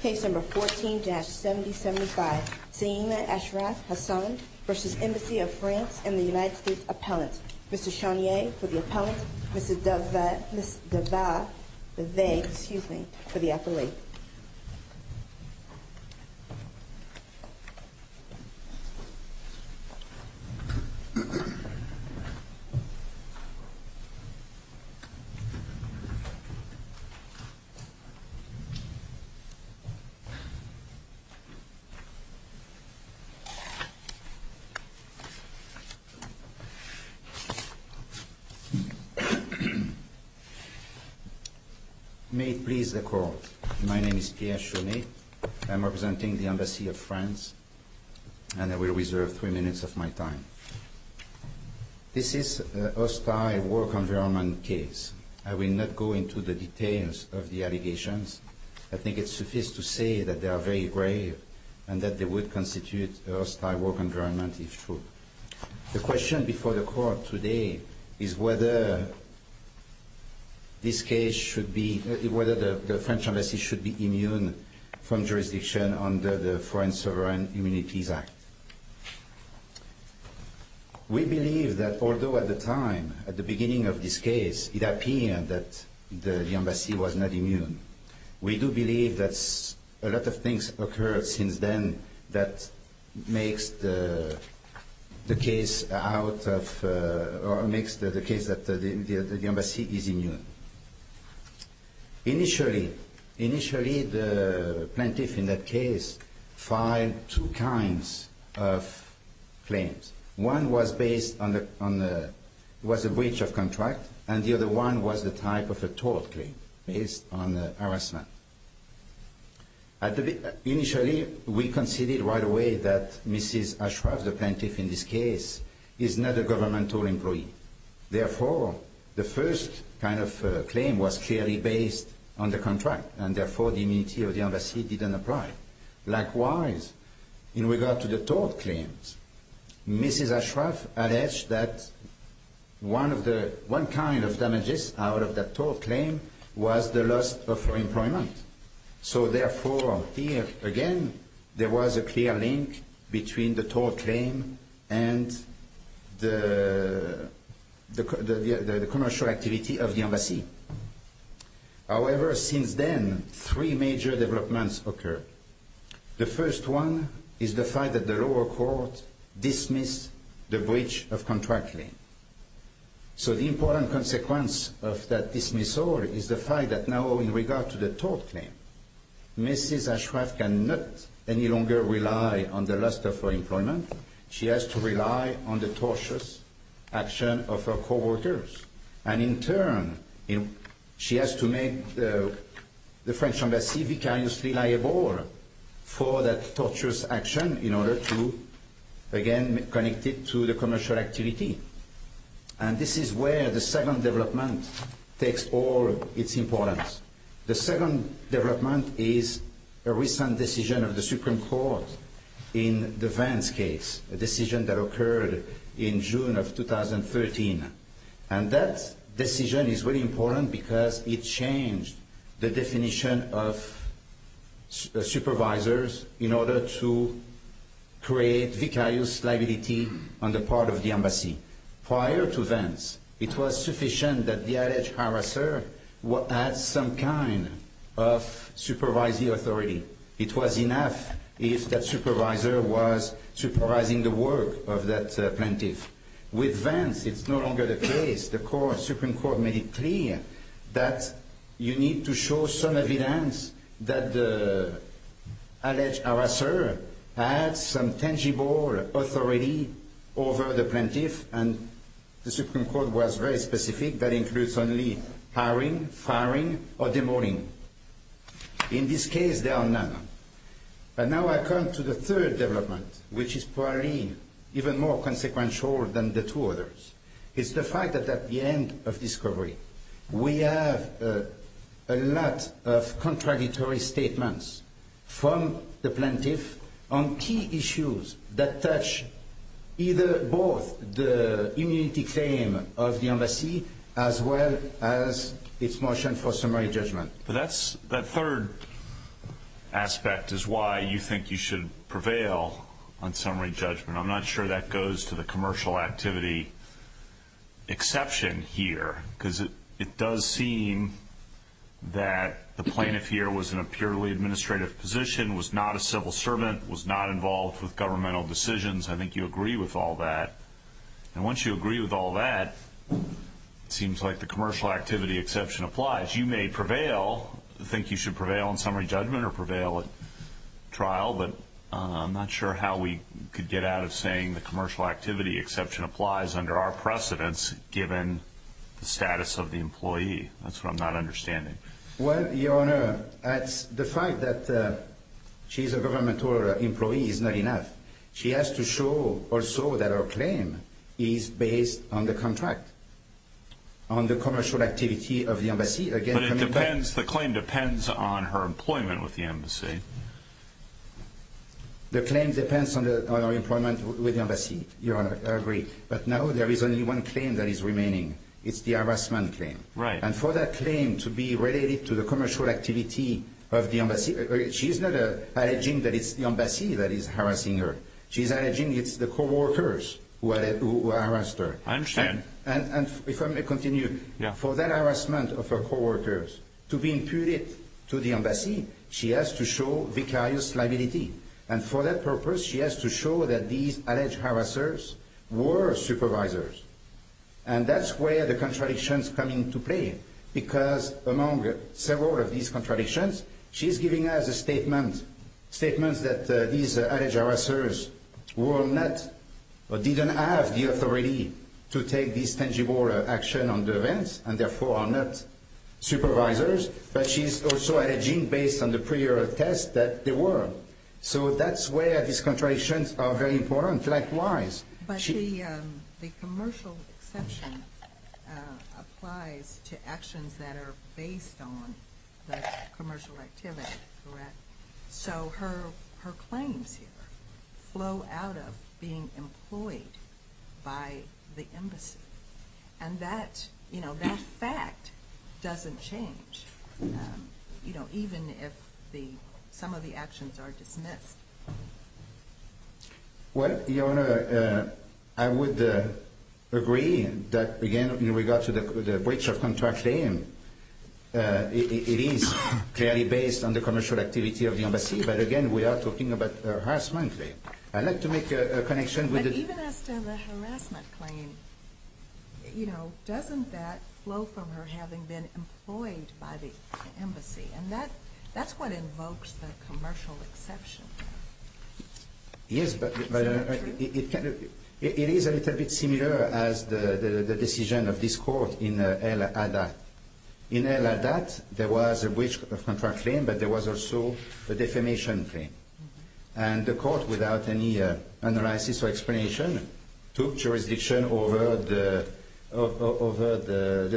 Case No. 14-7075, Saima Ashraf-Hassan v. Embassy of France and the United States Appellant. Mr. Chaunier for the Appellant, Mrs. Devae for the Appellate. May it please the Court, my name is Pierre Chaunier. I am representing the Embassy of France and I will reserve three minutes of my time. This is a hostile work environment case. I will not go into the details of the allegations. I think it is sufficient to say that they are very grave and that they would constitute a hostile work environment if true. The question before the Court today is whether the French Embassy should be immune from jurisdiction under the Foreign Sovereign Immunities Act. We believe that although at the time, at the beginning of this case, it appeared that the Embassy was not immune, we do believe that a lot of things occurred since then that makes the case that the Embassy is immune. Initially, the plaintiff in that case filed two kinds of claims. One was based on a breach of contract and the other one was the type of a tort claim based on harassment. Initially, we conceded right away that Mrs. Ashraf, the plaintiff in this case, is not a governmental employee. Therefore, the first kind of claim was clearly based on the contract and therefore the immunity of the Embassy did not apply. Likewise, in regard to the tort claims, Mrs. Ashraf alleged that one kind of damages out of that tort claim was the loss of her employment. Therefore, here again, there was a clear link between the tort claim and the commercial activity of the Embassy. However, since then, three major developments occurred. The first one is the fact that the lower court dismissed the breach of contract claim. So the important consequence of that dismissal is the fact that now in regard to the tort claim, Mrs. Ashraf cannot any longer rely on the loss of her employment. She has to rely on the tortious action of her co-workers and in turn, she has to make the French Embassy vicariously liable for that tortious action in order to again connect it to the commercial activity. And this is where the second development takes all its importance. The second development is a recent decision of the Supreme Court in the Vance case, a decision that occurred in June of 2013. And that decision is very important because it changed the definition of supervisors in order to create vicarious liability on the part of the Embassy. Prior to Vance, it was sufficient that the alleged harasser had some kind of supervisory authority. It was enough if that supervisor was supervising the work of that plaintiff. With Vance, it's no longer the case. The Supreme Court made it clear that you need to show some evidence that the alleged harasser had some tangible authority over the plaintiff. And the Supreme Court was very specific that it includes only hiring, firing, or demoting. In this case, there are none. But now I come to the third development, which is probably even more consequential than the two others. It's the fact that at the end of discovery, we have a lot of contradictory statements from the plaintiff on key issues that touch either both the immunity claim of the Embassy as well as its motion for summary judgment. But that third aspect is why you think you should prevail on summary judgment. I'm not sure that goes to the commercial activity exception here because it does seem that the plaintiff here was in a purely administrative position, was not a civil servant, was not involved with governmental decisions. I think you agree with all that. And once you agree with all that, it seems like the commercial activity exception applies. You may prevail, think you should prevail on summary judgment or prevail at trial, but I'm not sure how we could get out of saying the commercial activity exception applies under our precedence given the status of the employee. That's what I'm not understanding. Well, Your Honor, the fact that she's a governmental employee is not enough. She has to show also that her claim is based on the contract, on the commercial activity of the Embassy. But the claim depends on her employment with the Embassy. The claim depends on her employment with the Embassy. Your Honor, I agree. But now there is only one claim that is remaining. It's the harassment claim. And for that claim to be related to the commercial activity of the Embassy, she's not alleging that it's the Embassy that is harassing her. She's alleging it's the coworkers who harassed her. I understand. And if I may continue, for that harassment of her coworkers to be imputed to the Embassy, she has to show vicarious liability. And for that purpose, she has to show that these alleged harassers were supervisors. And that's where the contradictions come into play. Because among several of these contradictions, she's giving us a statement. Statements that these alleged harassers didn't have the authority to take this tangible action on the events, and therefore are not supervisors. But she's also alleging based on the prior test that they were. So that's where these contradictions are very important. Likewise. But the commercial exception applies to actions that are based on the commercial activity, correct? So her claims here flow out of being employed by the Embassy. And that fact doesn't change, even if some of the actions are dismissed. Well, Your Honor, I would agree that, again, in regards to the breach of contract claim, it is clearly based on the commercial activity of the Embassy. But again, we are talking about a harassment claim. I'd like to make a connection with the... You know, doesn't that flow from her having been employed by the Embassy? And that's what invokes the commercial exception. Yes, but it is a little bit similar as the decision of this Court in El Adat. In El Adat, there was a breach of contract claim, but there was also a defamation claim. And the Court, without any analysis or explanation, took jurisdiction over the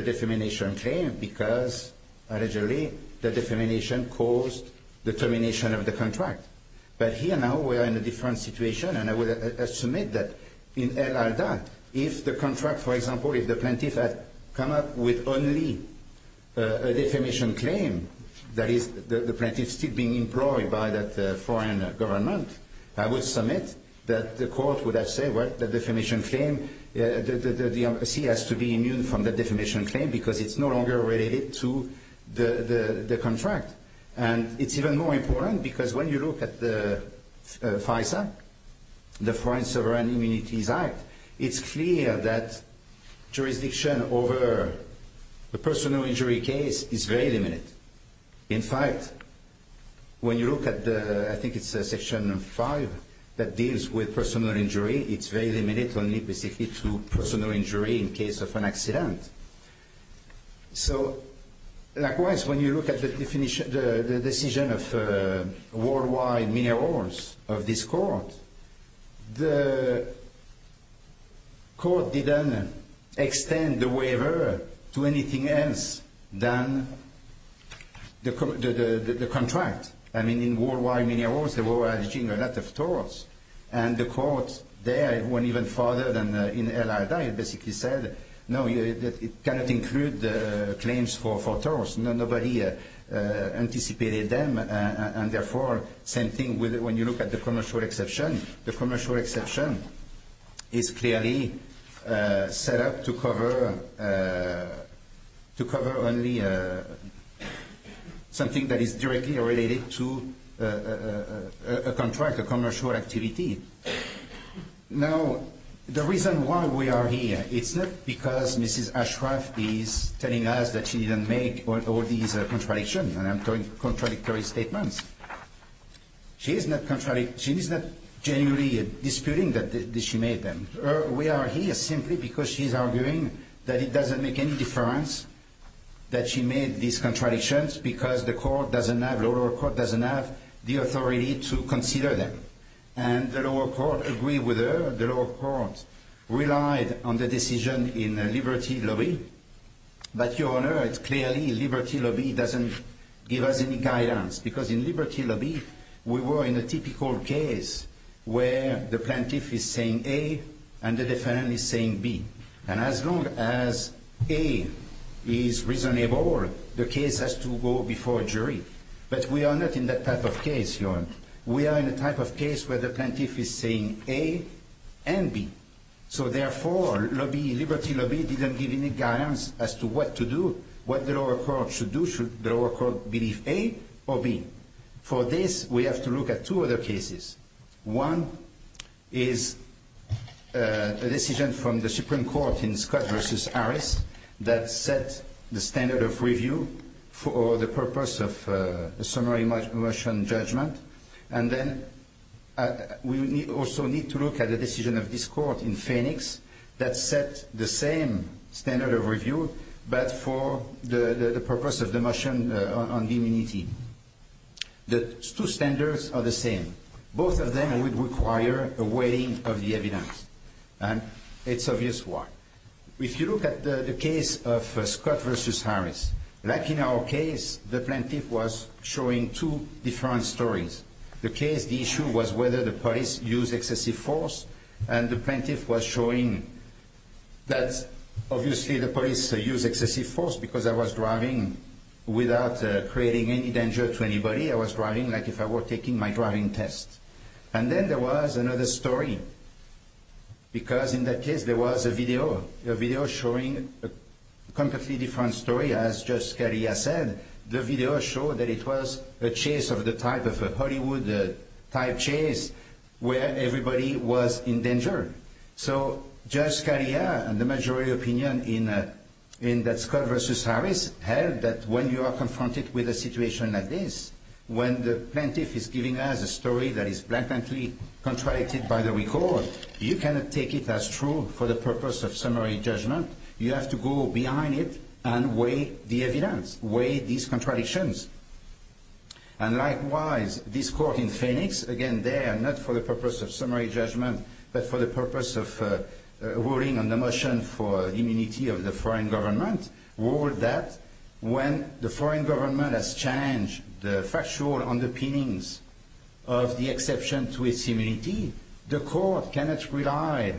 defamation claim because, allegedly, the defamation caused the termination of the contract. But here now, we are in a different situation, and I would submit that, in El Adat, if the contract, for example, if the plaintiff had come up with only a defamation claim, that is, the plaintiff still being employed by that foreign government, I would submit that the Court would have said, well, the defamation claim... The Embassy has to be immune from the defamation claim because it's no longer related to the contract. And it's even more important because when you look at the FISA, the Foreign Sovereign Immunities Act, it's clear that jurisdiction over the personal injury case is very limited. In fact, when you look at the, I think it's Section 5, that deals with personal injury, it's very limited only basically to personal injury in case of an accident. So likewise, when you look at the decision of Worldwide Minerals, of this Court, the Court didn't extend the waiver to anything else than the contract. I mean, in Worldwide Minerals, they were alleging a lot of torts, and the Court there, it went even farther than in El Adat. It basically said, no, it cannot include the claims for torts. Nobody anticipated them, and therefore, same thing when you look at the commercial exception. The commercial exception is clearly set up to cover only something that is directly related to a contract, a commercial activity. Now, the reason why we are here, it's not because Mrs. Ashcroft is telling us that she didn't make all these contradictions, and I'm throwing contradictory statements. She is not genuinely disputing that she made them. We are here simply because she is arguing that it doesn't make any difference that she made these contradictions because the lower court doesn't have the authority to consider them. And the lower court agreed with her. The lower court relied on the decision in Liberty Lobby. But, Your Honor, it's clearly Liberty Lobby doesn't give us any guidance because in Liberty Lobby, we were in a typical case where the plaintiff is saying A and the defendant is saying B. And as long as A is reasonable, the case has to go before a jury. But we are not in that type of case, Your Honor. We are in a type of case where the plaintiff is saying A and B. So, therefore, Liberty Lobby didn't give any guidance as to what to do, what the lower court should do, should the lower court believe A or B. For this, we have to look at two other cases. One is a decision from the Supreme Court in Scott v. Harris that set the standard of review for the purpose of a summary motion judgment. And then we also need to look at the decision of this court in Phoenix that set the same standard of review but for the purpose of the motion on immunity. The two standards are the same. Both of them would require a weighing of the evidence. And it's obvious why. If you look at the case of Scott v. Harris, like in our case, the plaintiff was showing two different stories. The case, the issue was whether the police used excessive force. And the plaintiff was showing that, obviously, the police used excessive force because I was driving without creating any danger to anybody. I was driving like if I were taking my driving test. And then there was another story. Because in that case, there was a video, a video showing a completely different story. As Judge Scalia said, the video showed that it was a chase of the type of a Hollywood type chase where everybody was in danger. So Judge Scalia and the majority opinion in that Scott v. Harris held that when you are confronted with a situation like this, when the plaintiff is giving us a story that is blatantly contradicted by the record, you cannot take it as true for the purpose of summary judgment. You have to go behind it and weigh the evidence, weigh these contradictions. And likewise, this court in Phoenix, again, there, not for the purpose of summary judgment, but for the purpose of ruling on the motion for immunity of the foreign government, ruled that when the foreign government has challenged the factual underpinnings of the exception to its immunity, the court cannot rely.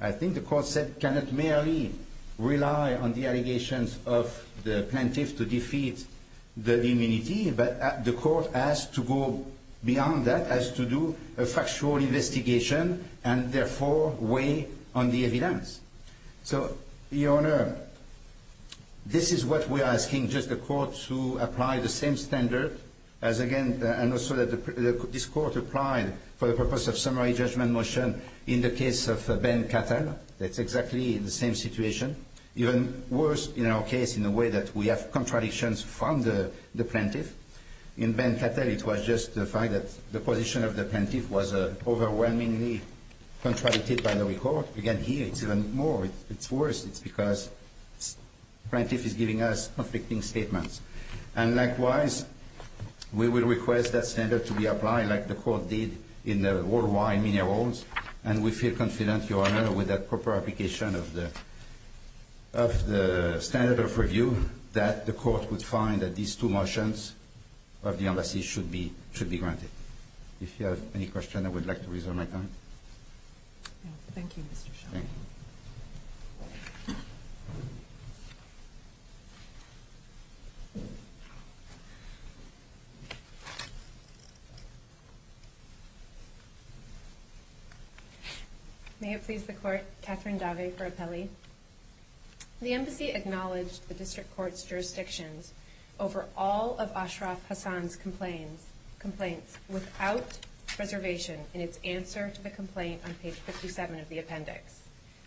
I think the court said cannot merely rely on the allegations of the plaintiff to defeat the immunity, but the court has to go beyond that, has to do a factual investigation and therefore weigh on the evidence. So, Your Honor, this is what we are asking, just the court to apply the same standard as again, and also that this court applied for the purpose of summary judgment motion in the case of Ben Cattell. That's exactly the same situation, even worse in our case in the way that we have contradictions from the plaintiff. In Ben Cattell, it was just the fact that the position of the plaintiff was overwhelmingly contradicted by the record. Again, here, it's even more, it's worse, it's because plaintiff is giving us conflicting statements. And likewise, we will request that standard to be applied like the court did in the worldwide, many worlds, and we feel confident, Your Honor, with that proper application of the standard of review that the court would find that these two motions of the embassy should be granted. If you have any questions, I would like to reserve my time. Thank you, Mr. Shah. Thank you. Thank you. May it please the court, Catherine Davey for appellee. The embassy acknowledged the district court's jurisdictions over all of Ashraf Hassan's complaints without reservation in its answer to the complaint on page 57 of the appendix.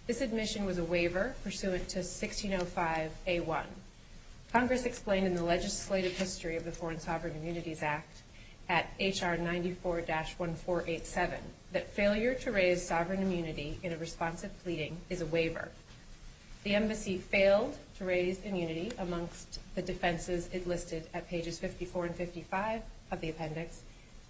This admission was a waiver pursuant to 1605A1. Congress explained in the legislative history of the Foreign Sovereign Immunities Act at HR 94-1487 that failure to raise sovereign immunity in a responsive pleading is a waiver. The embassy failed to raise immunity amongst the defenses enlisted at pages 54 and 55 of the appendix,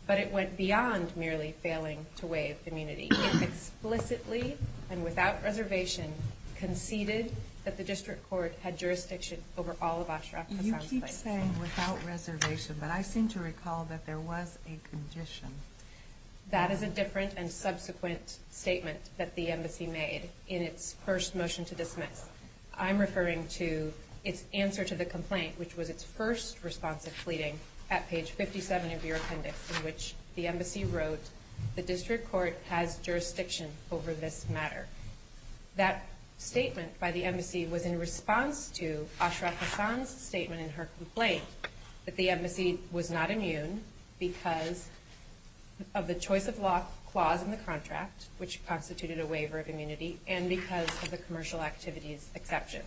but it went beyond merely failing to waive immunity. It explicitly and without reservation conceded that the district court had jurisdiction over all of Ashraf Hassan's complaints. You keep saying without reservation, but I seem to recall that there was a condition. That is a different and subsequent statement that the embassy made in its first motion to dismiss. I'm referring to its answer to the complaint, which was its first responsive pleading at page 57 of your appendix, in which the embassy wrote, the district court has jurisdiction over this matter. That statement by the embassy was in response to Ashraf Hassan's statement in her complaint that the embassy was not immune because of the choice of law clause in the contract, which constituted a waiver of immunity, and because of the commercial activities exception.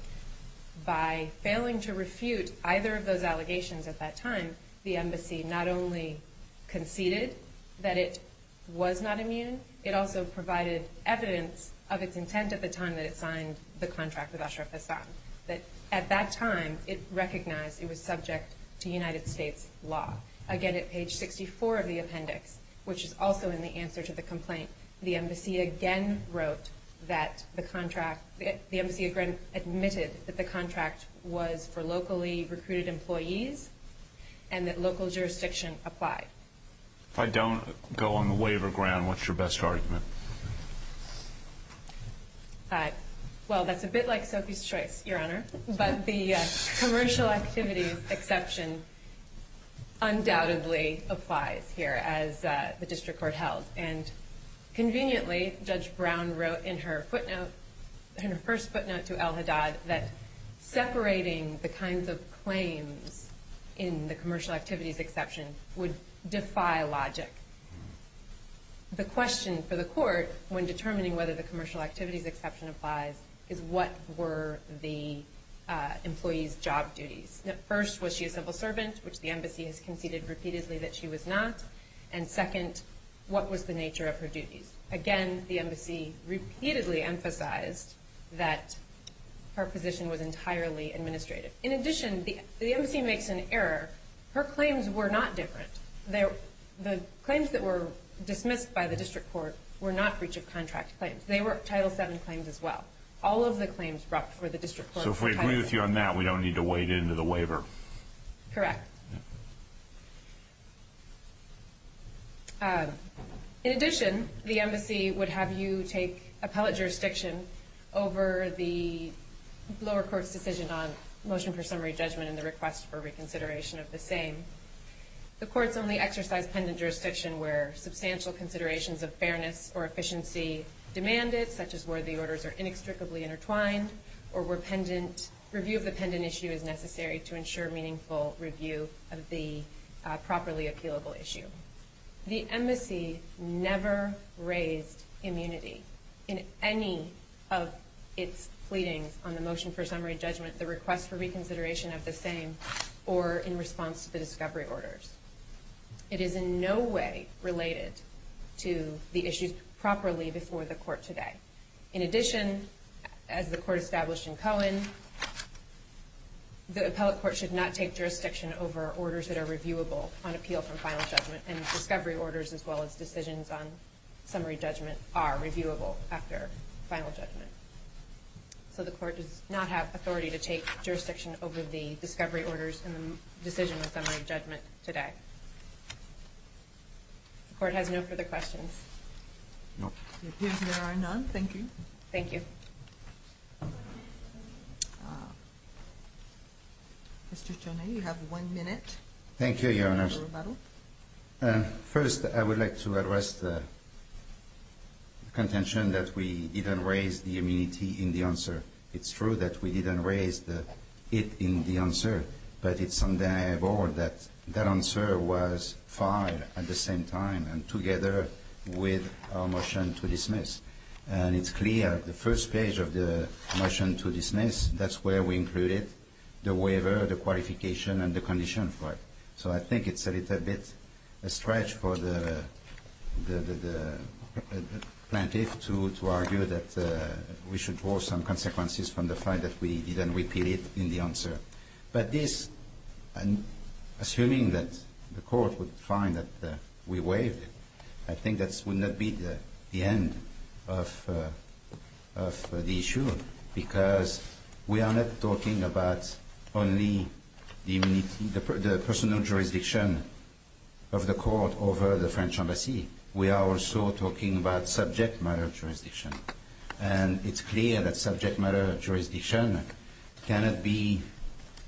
By failing to refute either of those allegations at that time, the embassy not only conceded that it was not immune, it also provided evidence of its intent at the time that it signed the contract with Ashraf Hassan. At that time, it recognized it was subject to United States law. Again, at page 64 of the appendix, which is also in the answer to the complaint, the embassy again wrote that the contract, the embassy admitted that the contract was for locally recruited employees and that local jurisdiction applied. If I don't go on the waiver ground, what's your best argument? Well, that's a bit like Sophie's Choice, Your Honor. But the commercial activities exception undoubtedly applies here, as the district court held. And conveniently, Judge Brown wrote in her footnote, in her first footnote to El Haddad, that separating the kinds of claims in the commercial activities exception would defy logic. The question for the court, when determining whether the commercial activities exception applies, is what were the employee's job duties? First, was she a civil servant, which the embassy has conceded repeatedly that she was not? And second, what was the nature of her duties? Again, the embassy repeatedly emphasized that her position was entirely administrative. In addition, the embassy makes an error. Her claims were not different. The claims that were dismissed by the district court were not breach of contract claims. They were Title VII claims as well. All of the claims brought before the district court were Title VII. So if we agree with you on that, we don't need to wade into the waiver? Correct. In addition, the embassy would have you take appellate jurisdiction over the lower court's decision on motion for summary judgment and the request for reconsideration of the same. Courts only exercise pendant jurisdiction where substantial considerations of fairness or efficiency demand it, such as where the orders are inextricably intertwined, or where review of the pendant issue is necessary to ensure meaningful review of the properly appealable issue. The embassy never raised immunity in any of its pleadings on the motion for summary judgment, the request for reconsideration of the same, or in response to the discovery orders. It is in no way related to the issues properly before the court today. In addition, as the court established in Cohen, the appellate court should not take jurisdiction over orders that are reviewable on appeal from final judgment, and discovery orders as well as decisions on summary judgment are reviewable after final judgment. So the court does not have authority to take jurisdiction over the discovery orders and the decision on summary judgment today. The court has no further questions. No. It appears there are none. Thank you. Thank you. Mr. Chaudhary, you have one minute. Thank you, Your Honor. First, I would like to address the contention that we didn't raise the immunity in the answer. It's true that we didn't raise it in the answer, but it's undeniable that that answer was filed at the same time and together with our motion to dismiss. And it's clear the first page of the motion to dismiss, that's where we included the waiver, the qualification, and the condition for it. So I think it's a little bit a stretch for the plaintiff to argue that we should draw some consequences from the fact that we didn't repeat it in the answer. In this case, assuming that the court would find that we waived it, I think that would not be the end of the issue, because we are not talking about only the personal jurisdiction of the court over the French embassy. We are also talking about subject matter jurisdiction. And it's clear that subject matter jurisdiction cannot be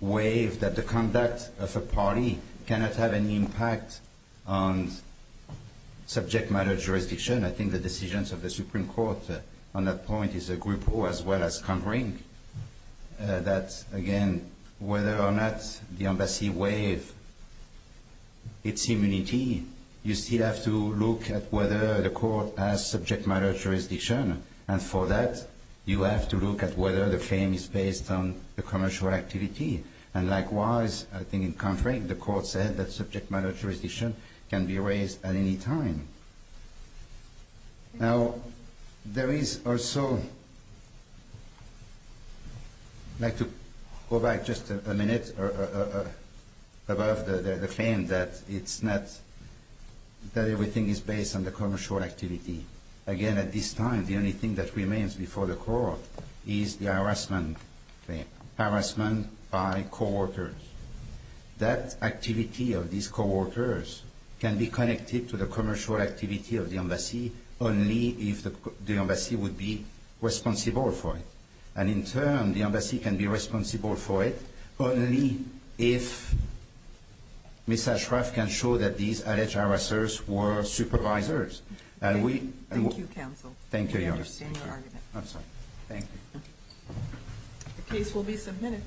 waived, that the conduct of a party cannot have an impact on subject matter jurisdiction. I think the decisions of the Supreme Court on that point is a group who, as well as Conring, that, again, whether or not the embassy waived its immunity, you still have to look at whether the court has subject matter jurisdiction. And for that, you have to look at whether the claim is based on the commercial activity. And likewise, I think in Conring, the court said that subject matter jurisdiction can be raised at any time. Now, there is also – I'd like to go back just a minute above the claim that it's not – that everything is based on the commercial activity. Again, at this time, the only thing that remains before the court is the harassment claim, harassment by co-workers. That activity of these co-workers can be connected to the commercial activity of the embassy only if the embassy would be responsible for it. And in turn, the embassy can be responsible for it only if Ms. Ashraf can show that these alleged harassers were supervisors. And we – Thank you, counsel. Thank you, Your Honor. We understand your argument. I'm sorry. Thank you. The case will be submitted.